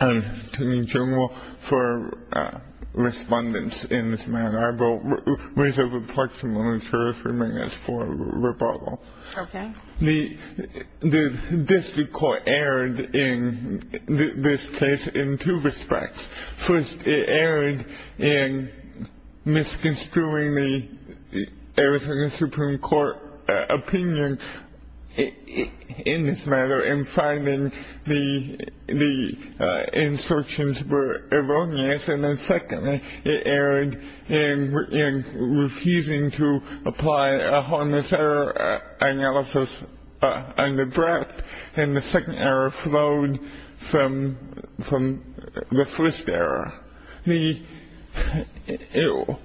I am Attorney General for Respondents in this matter. I will raise a perplexing issue if you may ask for a rebuttal. The District Court erred in this case in two respects. First it erred in misconstruing the Arizona Supreme Court opinion in this matter in finding the instructions were erroneous. And then secondly, it erred in refusing to apply a harmless error analysis on the draft. And the second error flowed from the first error.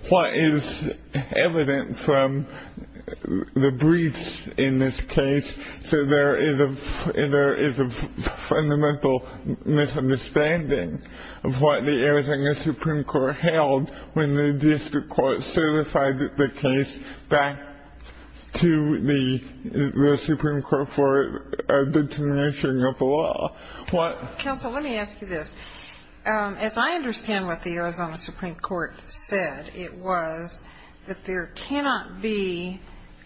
What is evident from the briefs in this case, there is a fundamental misunderstanding of what the Arizona Supreme Court held when the District Court certified the case back to the Supreme Court for a determination of the law. Counsel, let me ask you this. As I understand what the Arizona Supreme Court said, it was that there cannot be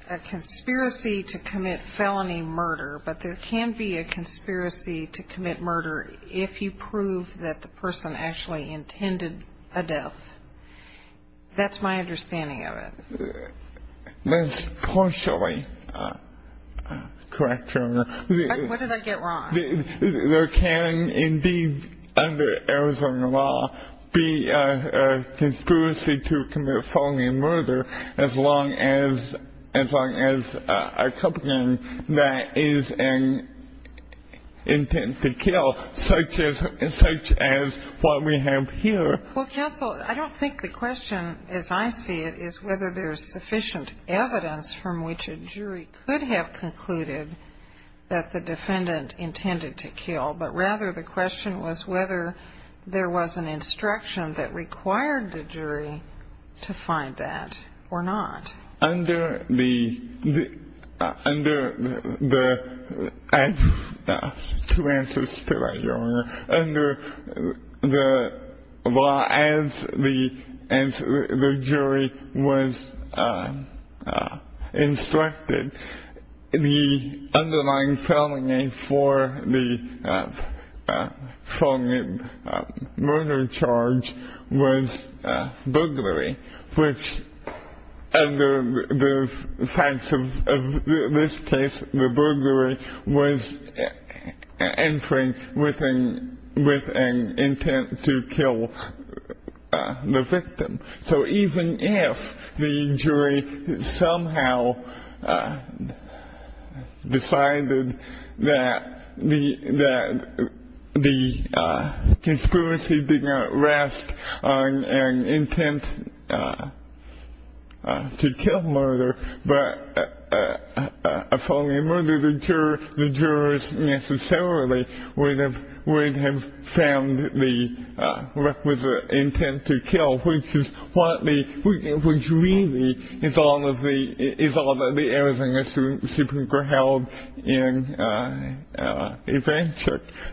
a conspiracy to commit felony murder, but there can be a conspiracy to commit murder if you prove that the person actually intended a death. That's my understanding of it. Let's partially correct you. What did I get wrong? There can indeed under Arizona law be a conspiracy to commit felony murder as long as a company that is an intent to kill, such as what we have here. Well, Counsel, I don't think the question, as I see it, is whether there is sufficient evidence from which a jury could have concluded that the defendant intended to kill, but rather the question was whether there was an instruction that required the jury to find that or not. Under the law, as the jury was instructed, the underlying felony for the felony murder charge was burglary, which under the facts of this case, the burglary was entering with an intent to kill the victim. So even if the jury somehow decided that the conspiracy did not rest on an intent to kill murder, but a felony murder, the jurors necessarily would have found the requisite intent to kill, which really is all that the Arizona Supreme Court held in advance.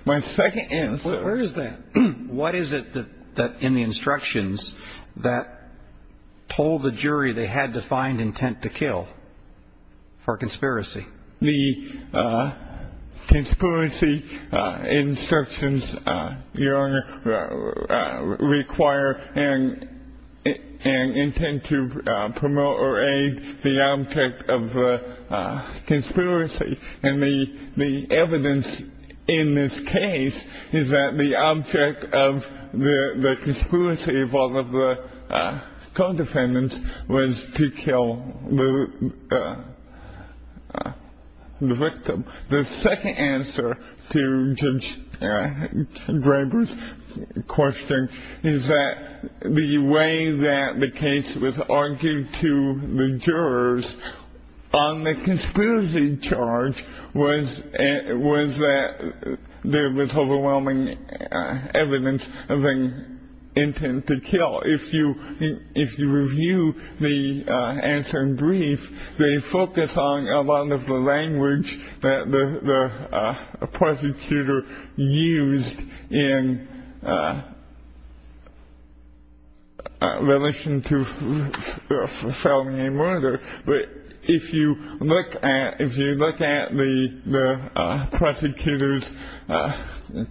My second answer. Where is that? What is it in the instructions that told the jury they had to find intent to kill for conspiracy? The conspiracy instructions require an intent to promote or aid the object of the conspiracy. And the evidence in this case is that the object of the conspiracy of all of the co-defendants was to kill the victim. The second answer to Judge Draper's question is that the way that the case was argued to the jurors on the conspiracy charge was that there was overwhelming evidence of an intent to kill. If you review the answer in brief, they focus on a lot of the language that the prosecutor used in relation to felony murder. But if you look at the prosecutor's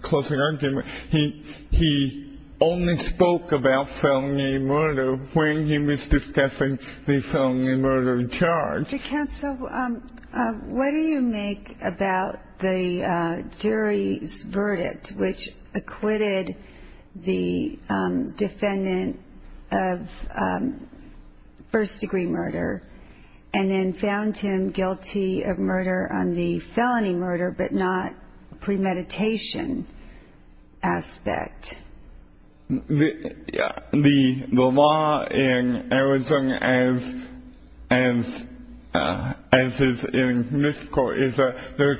closing argument, he only spoke about felony murder when he was discussing the felony murder charge. What do you make about the jury's verdict, which acquitted the defendant of first-degree murder and then found him guilty of murder on the felony murder but not premeditation aspect? The law in Arizona, as is in Michigan, is that there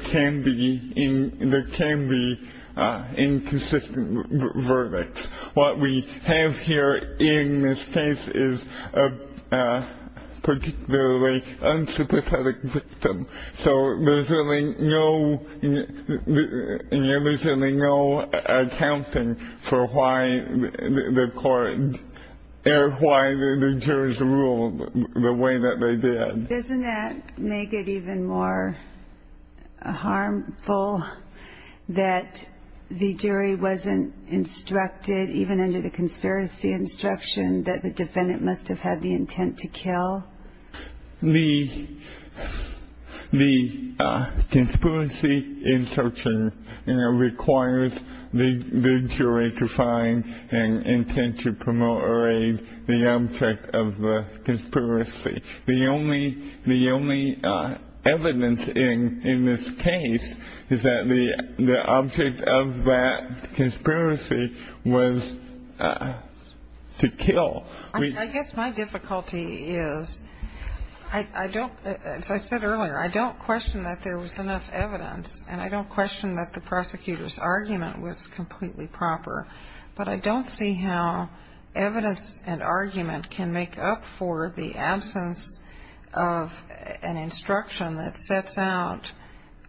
can be inconsistent verdicts. What we have here in this case is a particularly unsympathetic victim. So there's really no accounting for why the jurors ruled the way that they did. Doesn't that make it even more harmful that the jury wasn't instructed, even under the conspiracy instruction, that the defendant must have had the intent to kill? The conspiracy instruction requires the jury to find an intent to promote or aid the object of the conspiracy. The only evidence in this case is that the object of that conspiracy was to kill. I guess my difficulty is, as I said earlier, I don't question that there was enough evidence and I don't question that the prosecutor's argument was completely proper. But I don't see how evidence and argument can make up for the absence of an instruction that sets out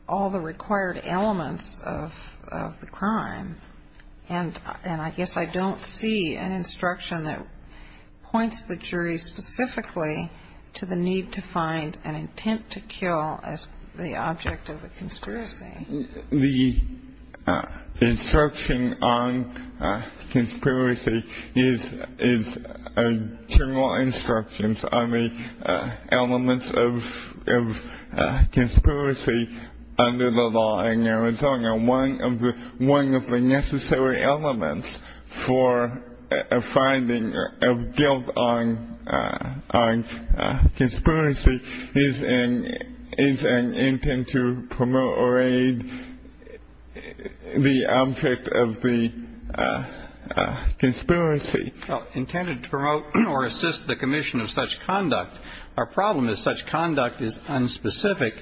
all the required elements of the crime. And I guess I don't see an instruction that points the jury specifically to the need to find an intent to kill as the object of the conspiracy. The instruction on conspiracy is a general instruction on the elements of conspiracy under the law in Arizona. One of the necessary elements for a finding of guilt on conspiracy is an intent to promote or aid the object of the conspiracy. Well, intended to promote or assist the commission of such conduct. Our problem is such conduct is unspecific.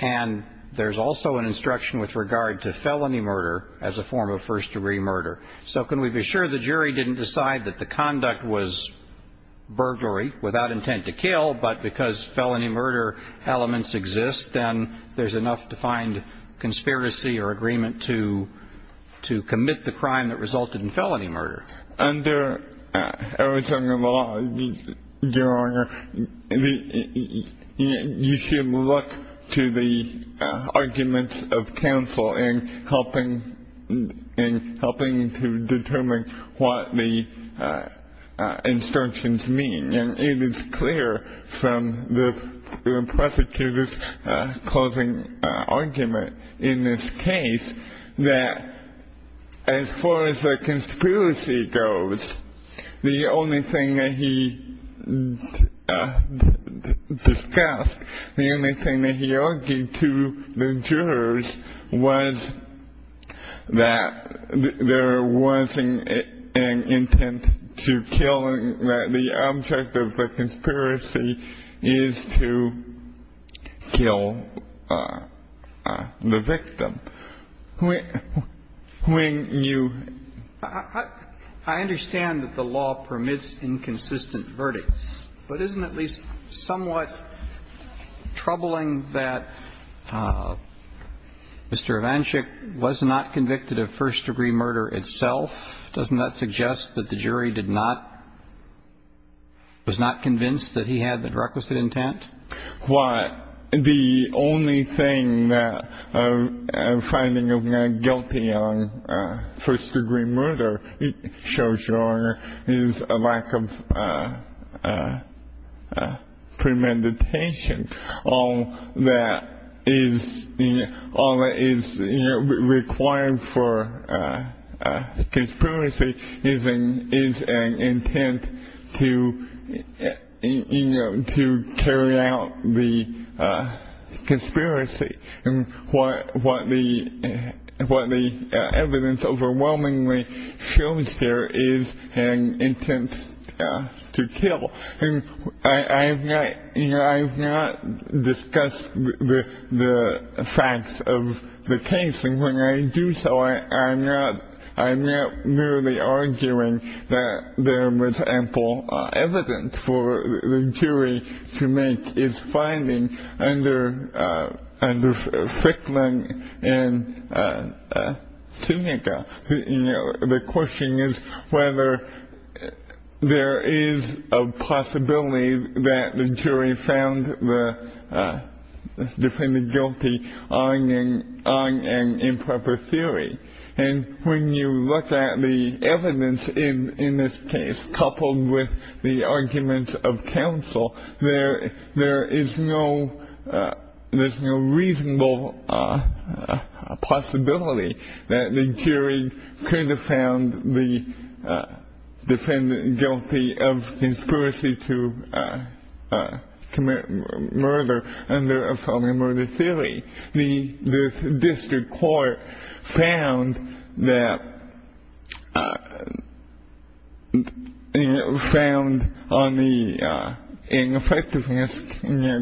And there's also an instruction with regard to felony murder as a form of first-degree murder. So can we be sure the jury didn't decide that the conduct was burglary without intent to kill, but because felony murder elements exist, then there's enough to find conspiracy or agreement to commit the crime that resulted in felony murder? Under Arizona law, Your Honor, you should look to the arguments of counsel in helping to determine what the instructions mean. And it is clear from the prosecutor's closing argument in this case that as far as the conspiracy goes, the only thing that he discussed, the only thing that he argued to the jurors, was that there wasn't an intent to killing, that the object of the conspiracy is to kill the victim. When you ---- I understand that the law permits inconsistent verdicts. But isn't it at least somewhat troubling that Mr. Ivanchik was not convicted of first-degree murder itself? Doesn't that suggest that the jury did not ---- was not convinced that he had the requisite intent? Well, the only thing that a finding of not guilty on first-degree murder shows, Your Honor, is a lack of premeditation. All that is required for conspiracy is an intent to carry out the conspiracy. And what the evidence overwhelmingly shows here is an intent to kill. And I have not ---- you know, I have not discussed the facts of the case. And when I do so, I'm not merely arguing that there was ample evidence for the jury to make its finding under Frickland and Sunika. The question is whether there is a possibility that the jury found the defendant guilty on an improper theory. And when you look at the evidence in this case, coupled with the arguments of counsel, there is no reasonable possibility that the jury could have found the defendant guilty of conspiracy to commit murder under a felony murder theory. The district court found that ---- found on the ineffectiveness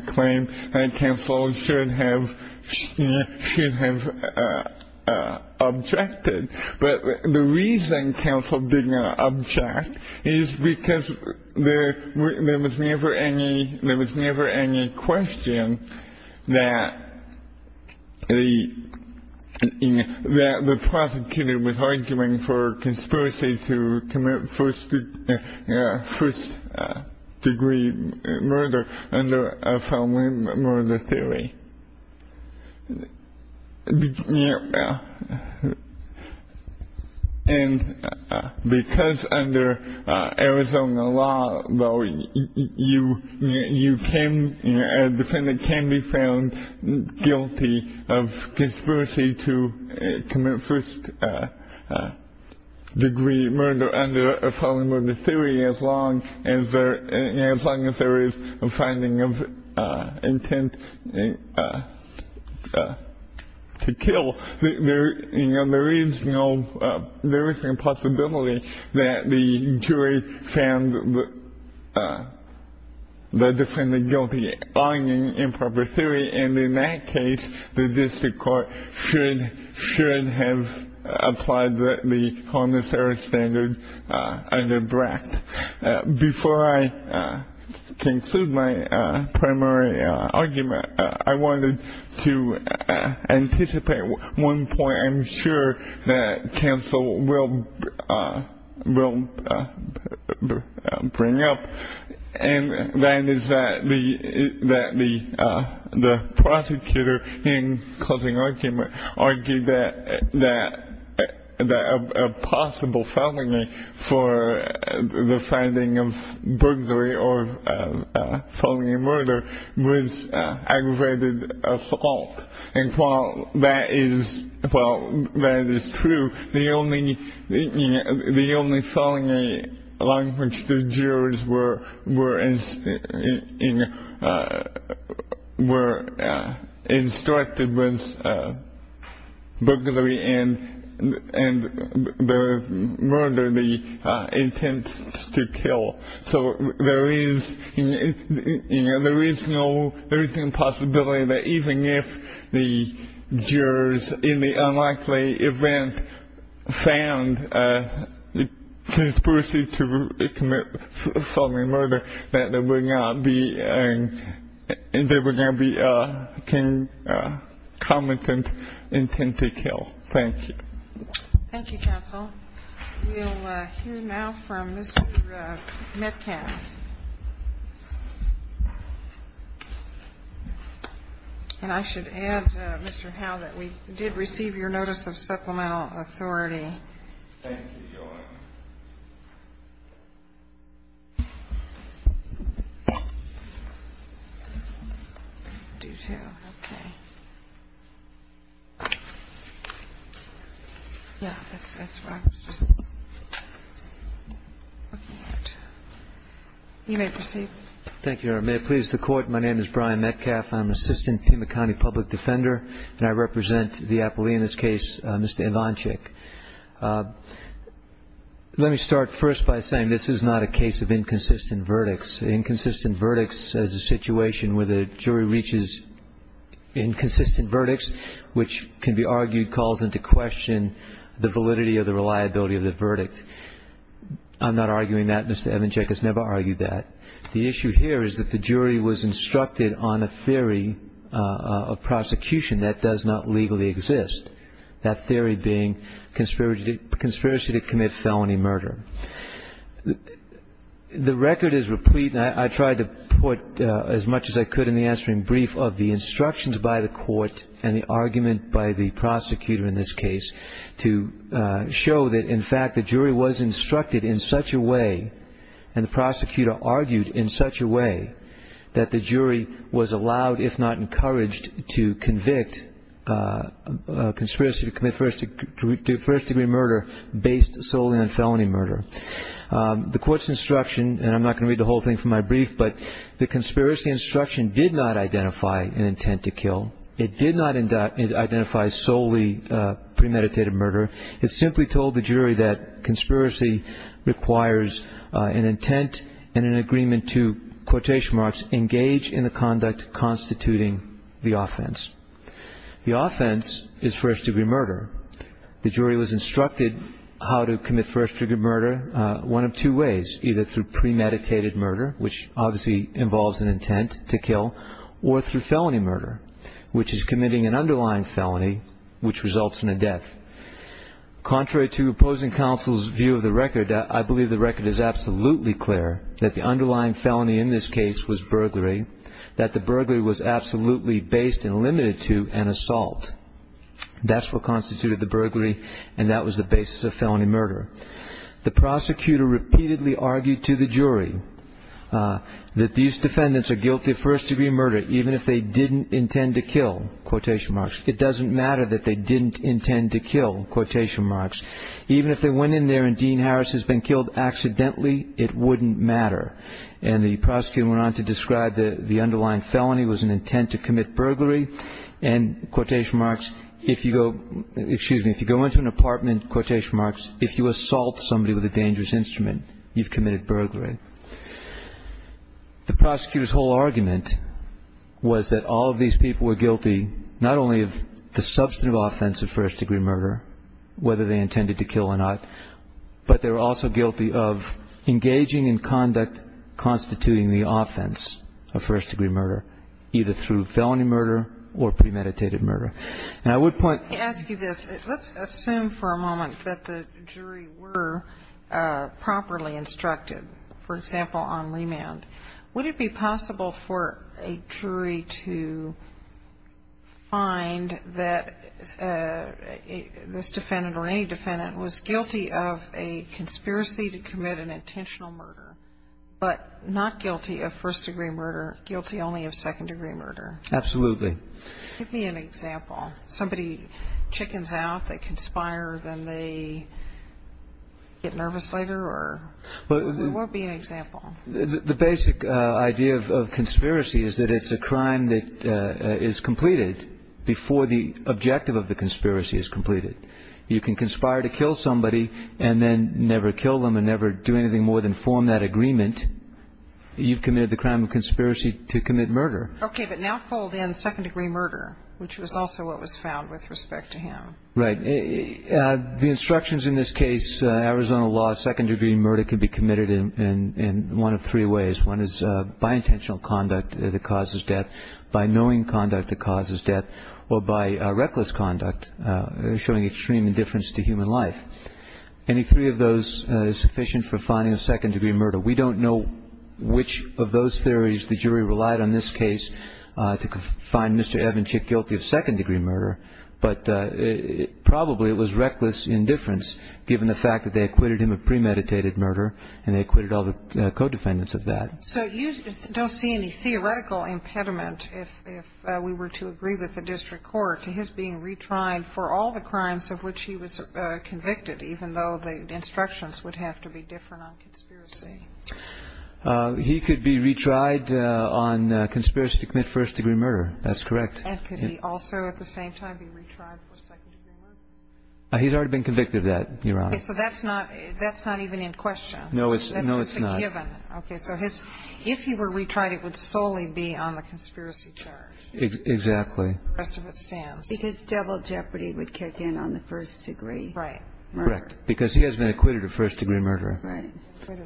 claim that counsel should have objected. But the reason counsel did not object is because there was never any question that the prosecutor was arguing for conspiracy to commit first-degree murder under a felony murder theory. And because under Arizona law, you can ---- a defendant can be found guilty of conspiracy to commit first-degree murder under a felony murder theory as long as there is a finding of intent to kill, there is no ---- there is no possibility that the jury found the defendant guilty on an improper theory. And in that case, the district court should have applied the connoisseur standard under BRAC. Before I conclude my primary argument, I wanted to anticipate one point I'm sure that counsel will bring up. And that is that the prosecutor in closing argument argued that a possible felony for the finding of burglary or felony murder was aggravated assault. And while that is true, the only felony in which the jurors were instructed was burglary and the murder, the intent to kill. So there is, you know, there is no ---- there is no possibility that even if the jurors in the unlikely event found conspiracy to commit felony murder, that there would not be ---- there would not be a committant intent to kill. Thank you. Thank you, counsel. We'll hear now from Mr. Metcalf. And I should add, Mr. Howe, that we did receive your notice of supplemental authority. Thank you, Your Honor. We do have one more. Do two, okay. Yeah, that's what I was just looking at. You may proceed. Thank you, Your Honor. May it please the Court. My name is Brian Metcalf. I'm an assistant Pima County public defender, and I represent the appellee in this case, Mr. Evancik. Let me start first by saying this is not a case of inconsistent verdicts. Inconsistent verdicts is a situation where the jury reaches inconsistent verdicts, which can be argued calls into question the validity or the reliability of the verdict. I'm not arguing that. Mr. Evancik has never argued that. The issue here is that the jury was instructed on a theory of prosecution that does not legally exist, that theory being conspiracy to commit felony murder. The record is replete, and I tried to put as much as I could in the answering brief of the instructions by the court and the argument by the prosecutor in this case to show that, in fact, the jury was instructed in such a way, and the prosecutor argued in such a way, that the jury was allowed, if not encouraged, to convict conspiracy to commit first-degree murder based solely on felony murder. The court's instruction, and I'm not going to read the whole thing from my brief, but the conspiracy instruction did not identify an intent to kill. It did not identify solely premeditated murder. It simply told the jury that conspiracy requires an intent and an agreement to, quotation marks, engage in the conduct constituting the offense. The offense is first-degree murder. The jury was instructed how to commit first-degree murder one of two ways, either through premeditated murder, which obviously involves an intent to kill, or through felony murder, which is committing an underlying felony, which results in a death. Contrary to opposing counsel's view of the record, I believe the record is absolutely clear that the underlying felony in this case was burglary, that the burglary was absolutely based and limited to an assault. That's what constituted the burglary, and that was the basis of felony murder. The prosecutor repeatedly argued to the jury that these defendants are guilty of first-degree murder, even if they didn't intend to kill, quotation marks. It doesn't matter that they didn't intend to kill, quotation marks. Even if they went in there and Dean Harris has been killed accidentally, it wouldn't matter. And the prosecutor went on to describe the underlying felony was an intent to commit burglary, and, quotation marks, if you go into an apartment, quotation marks, if you assault somebody with a dangerous instrument, you've committed burglary. The prosecutor's whole argument was that all of these people were guilty not only of the substantive offense of first-degree murder, whether they intended to kill or not, but they were also guilty of engaging in conduct constituting the offense of first-degree murder, either through felony murder or premeditated murder. And I would point to this. Let's assume for a moment that the jury were properly instructed. For example, on remand, would it be possible for a jury to find that this defendant or any defendant was guilty of a conspiracy to commit an intentional murder, but not guilty of first-degree murder, guilty only of second-degree murder? Absolutely. Give me an example. Somebody chickens out, they conspire, then they get nervous later, or what would be an example? The basic idea of conspiracy is that it's a crime that is completed before the objective of the conspiracy is completed. You can conspire to kill somebody and then never kill them and never do anything more than form that agreement. You've committed the crime of conspiracy to commit murder. Okay. But now fold in second-degree murder, which was also what was found with respect to him. Right. The instructions in this case, Arizona law, second-degree murder can be committed in one of three ways. One is by intentional conduct that causes death, by knowing conduct that causes death, or by reckless conduct, showing extreme indifference to human life. Any three of those is sufficient for finding a second-degree murder. We don't know which of those theories the jury relied on in this case to find Mr. Evanschick guilty of second-degree murder, but probably it was reckless indifference given the fact that they acquitted him of premeditated murder and they acquitted all the co-defendants of that. So you don't see any theoretical impediment, if we were to agree with the district court, to his being retried for all the crimes of which he was convicted, even though the instructions would have to be different on conspiracy? He could be retried on conspiracy to commit first-degree murder. That's correct. And could he also at the same time be retried for second-degree murder? He's already been convicted of that, Your Honor. Okay. So that's not even in question. No, it's not. That's just a given. Okay. So if he were retried, it would solely be on the conspiracy charge. Exactly. The rest of it stands. Because devil jeopardy would kick in on the first-degree murder. Right. Murder. Correct. Because he has been acquitted of first-degree murder. Right.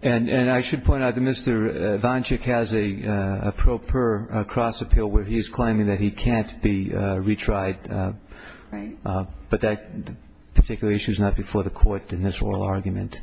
And I should point out that Mr. Vonchick has a pro per cross appeal where he is claiming that he can't be retried. Right. But that particular issue is not before the Court in this oral argument.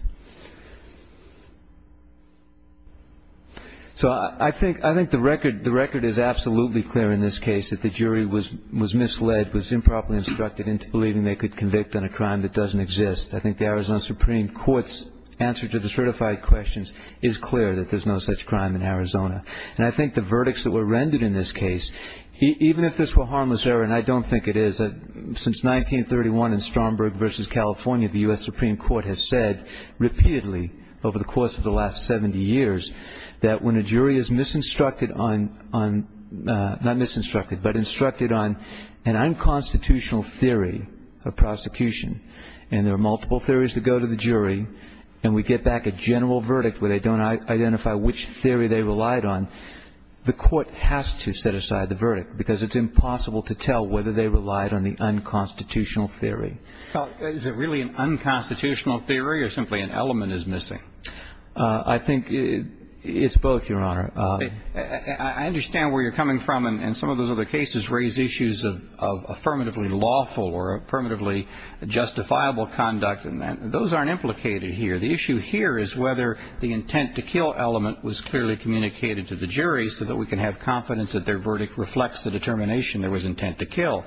So I think the record is absolutely clear in this case, that the jury was misled, was improperly instructed into believing they could convict on a crime that doesn't exist. I think the Arizona Supreme Court's answer to the certified questions is clear, that there's no such crime in Arizona. And I think the verdicts that were rendered in this case, even if this were harmless error, and I don't think it is, since 1931 in Stromberg v. California, the U.S. Supreme Court has said repeatedly over the course of the last 70 years that when a jury is misinstructed on, not misinstructed, but instructed on an unconstitutional theory of prosecution, and there are multiple theories that go to the jury, and we get back a general verdict where they don't identify which theory they relied on, the Court has to set aside the verdict, because it's impossible to tell whether they relied on the unconstitutional theory. Is it really an unconstitutional theory or simply an element is missing? I think it's both, Your Honor. I understand where you're coming from, and some of those other cases raise issues of affirmatively lawful or affirmatively justifiable conduct, and those aren't implicated here. The issue here is whether the intent to kill element was clearly communicated to the jury so that we can have confidence that their verdict reflects the determination there was intent to kill.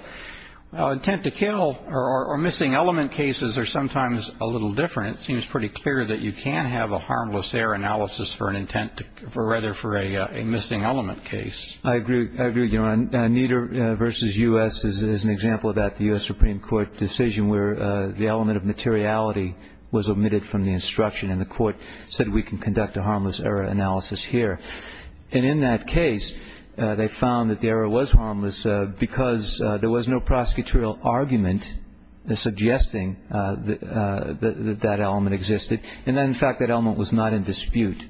Intent to kill or missing element cases are sometimes a little different. It seems pretty clear that you can have a harmless error analysis for an intent, or rather for a missing element case. I agree, Your Honor. Nieder v. U.S. is an example of that. The U.S. Supreme Court decision where the element of materiality was omitted from the instruction, and the Court said we can conduct a harmless error analysis here. And in that case, they found that the error was harmless because there was no prosecutorial argument suggesting that that element existed. And, in fact, that element was not in dispute.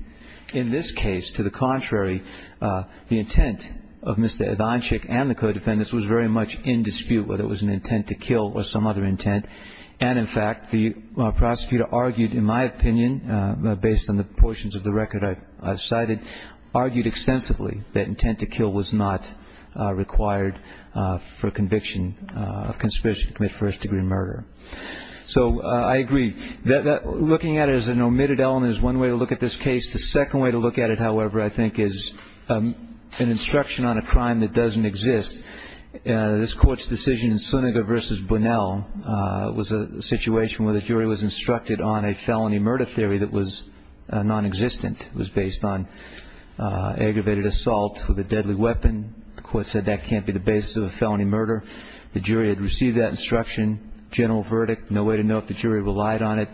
In this case, to the contrary, the intent of Mr. Adonchik and the co-defendants was very much in dispute, whether it was an intent to kill or some other intent. And, in fact, the prosecutor argued, in my opinion, based on the portions of the record I've cited, argued extensively that intent to kill was not required for conviction of conspiracy to commit first-degree murder. So I agree. Looking at it as an omitted element is one way to look at this case. The second way to look at it, however, I think, is an instruction on a crime that doesn't exist. This Court's decision in Suniga v. Bunnell was a situation where the jury was instructed on a felony murder theory that was nonexistent, was based on aggravated assault with a deadly weapon. The Court said that can't be the basis of a felony murder. The jury had received that instruction. General verdict, no way to know if the jury relied on it.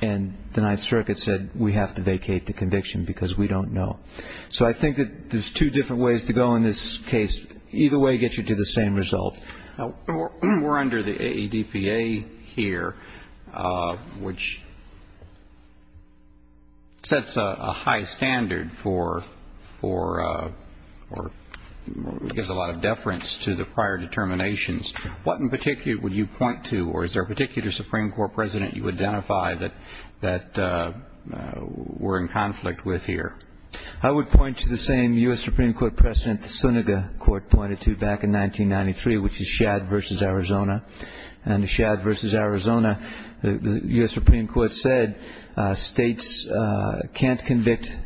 And the Ninth Circuit said we have to vacate the conviction because we don't know. So I think that there's two different ways to go in this case. Either way gets you to the same result. We're under the AEDPA here, which sets a high standard for or gives a lot of deference to the prior determinations. What in particular would you point to, or is there a particular Supreme Court president you identify that we're in conflict with here? I would point to the same U.S. Supreme Court president the Suniga Court pointed to back in 1993, which is Shad v. Arizona. And Shad v. Arizona, the U.S. Supreme Court said states can't convict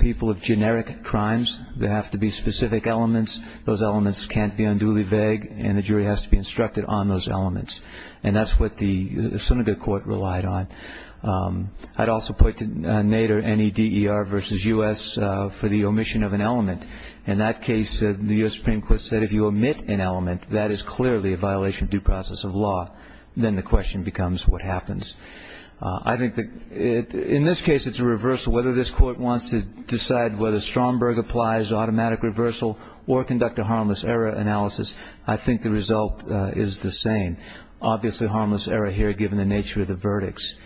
people of generic crimes. There have to be specific elements. Those elements can't be unduly vague, and the jury has to be instructed on those elements. And that's what the Suniga Court relied on. I'd also point to Nader, N-E-D-E-R v. U.S. for the omission of an element. In that case, the U.S. Supreme Court said if you omit an element, that is clearly a violation of due process of law. Then the question becomes what happens. I think in this case it's a reversal. Whether this Court wants to decide whether Stromberg applies automatic reversal or conduct a harmless error analysis, I think the result is the same. Obviously, harmless error here given the nature of the verdicts.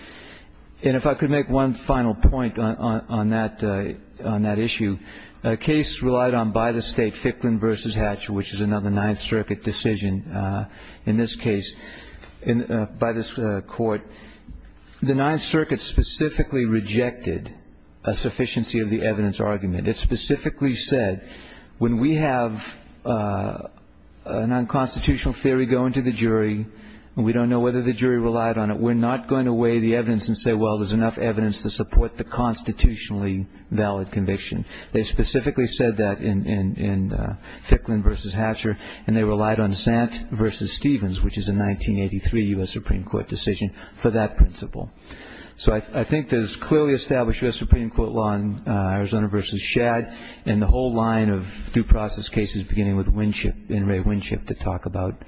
And if I could make one final point on that issue, a case relied on by the state, Ficklin v. Hatcher, which is another Ninth Circuit decision in this case by this Court. The Ninth Circuit specifically rejected a sufficiency of the evidence argument. It specifically said when we have a nonconstitutional theory go into the jury and we don't know whether the jury relied on it, we're not going to weigh the evidence and say, well, there's enough evidence to support the constitutionally valid conviction. They specifically said that in Ficklin v. Hatcher, and they relied on Sant v. Stevens, which is a 1983 U.S. Supreme Court decision, for that principle. So I think there's clearly established U.S. Supreme Court law in Arizona v. Shad and the whole line of due process cases beginning with Winship, N. Ray Winship, that talk about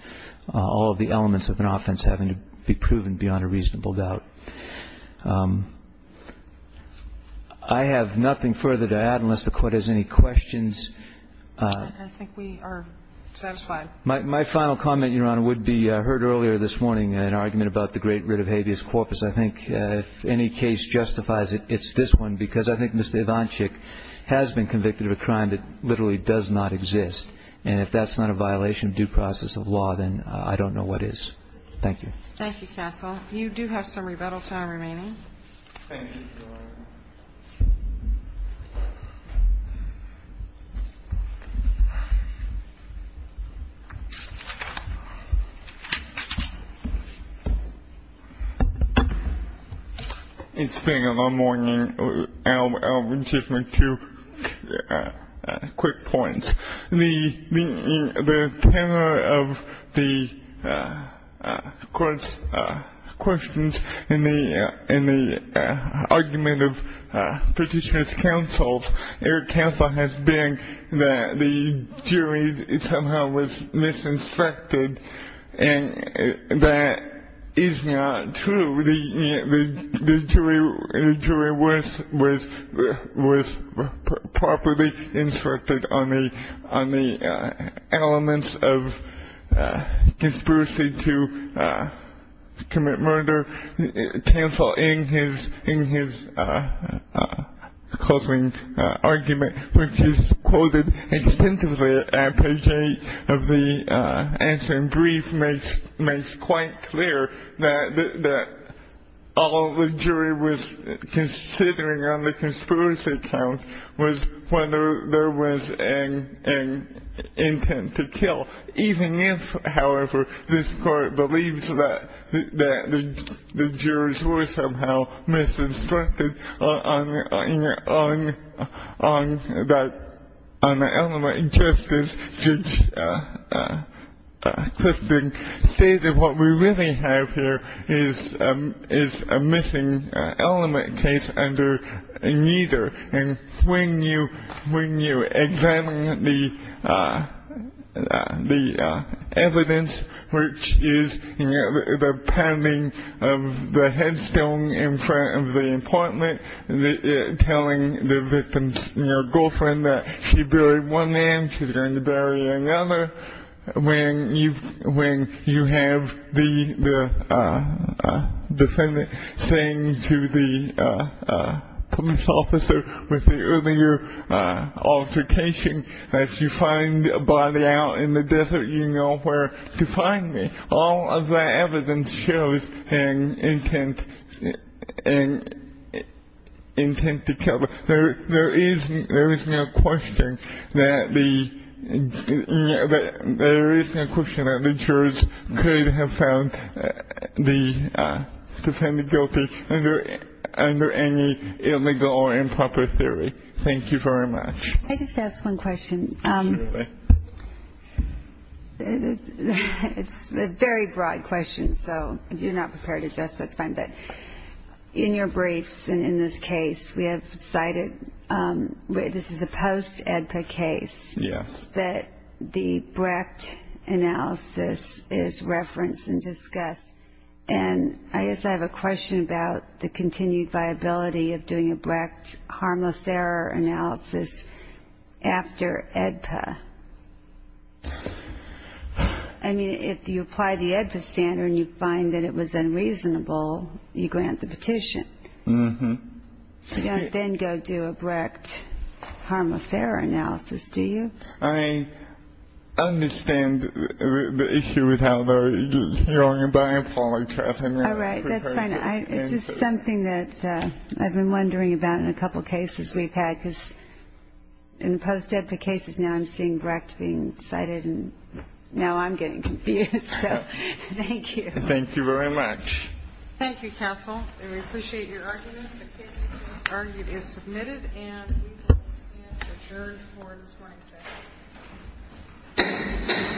all of the elements of an offense having to be proven beyond a reasonable doubt. I have nothing further to add unless the Court has any questions. I think we are satisfied. My final comment, Your Honor, would be I heard earlier this morning an argument about the great writ of habeas corpus. I think if any case justifies it, it's this one, because I think Mr. Ivanchik has been convicted of a crime that literally does not exist. And if that's not a violation of due process of law, then I don't know what is. Thank you. Thank you, counsel. You do have some rebuttal time remaining. Thank you, Your Honor. Thank you. It's been a long morning. I'll just make two quick points. The tenor of the Court's questions in the argument of Petitioner's counsel, Eric Cancel, has been that the jury somehow was misinspected, and that is not true. The jury was properly instructed on the elements of conspiracy to commit murder. Counsel, in his closing argument, which is quoted extensively at page 8 of the answering brief, makes quite clear that all the jury was considering on the conspiracy count was whether there was an intent to kill, even if, however, this Court believes that the jurors were somehow misinstructed on the element of justice. Judge Clifton stated what we really have here is a missing element case under neither. And when you examine the evidence, which is the pounding of the headstone in front of the apartment, telling the victim's girlfriend that she buried one man, she's going to bury another, when you have the defendant saying to the police officer with the earlier altercation that you find a body out in the desert, you know where to find me. All of that evidence shows an intent to kill. So there is no question that the jurors could have found the defendant guilty under any illegal or improper theory. Thank you very much. Can I just ask one question? Absolutely. It's a very broad question, so if you're not prepared to address it, that's fine. In your briefs and in this case, we have cited this is a post-AEDPA case. Yes. But the Brecht analysis is referenced and discussed. And I guess I have a question about the continued viability of doing a Brecht harmless error analysis after AEDPA. I mean, if you apply the AEDPA standard and you find that it was unreasonable, you grant the petition. Mm-hmm. You don't then go do a Brecht harmless error analysis, do you? I mean, I understand the issue with how they're hearing about improper trafficking. All right. That's fine. It's just something that I've been wondering about in a couple cases we've had, because in post-AEDPA cases now I'm seeing Brecht being cited, and now I'm getting confused. So thank you. Thank you very much. Thank you, counsel. And we appreciate your arguments. The case is submitted, and we will stand adjourned for this morning's session.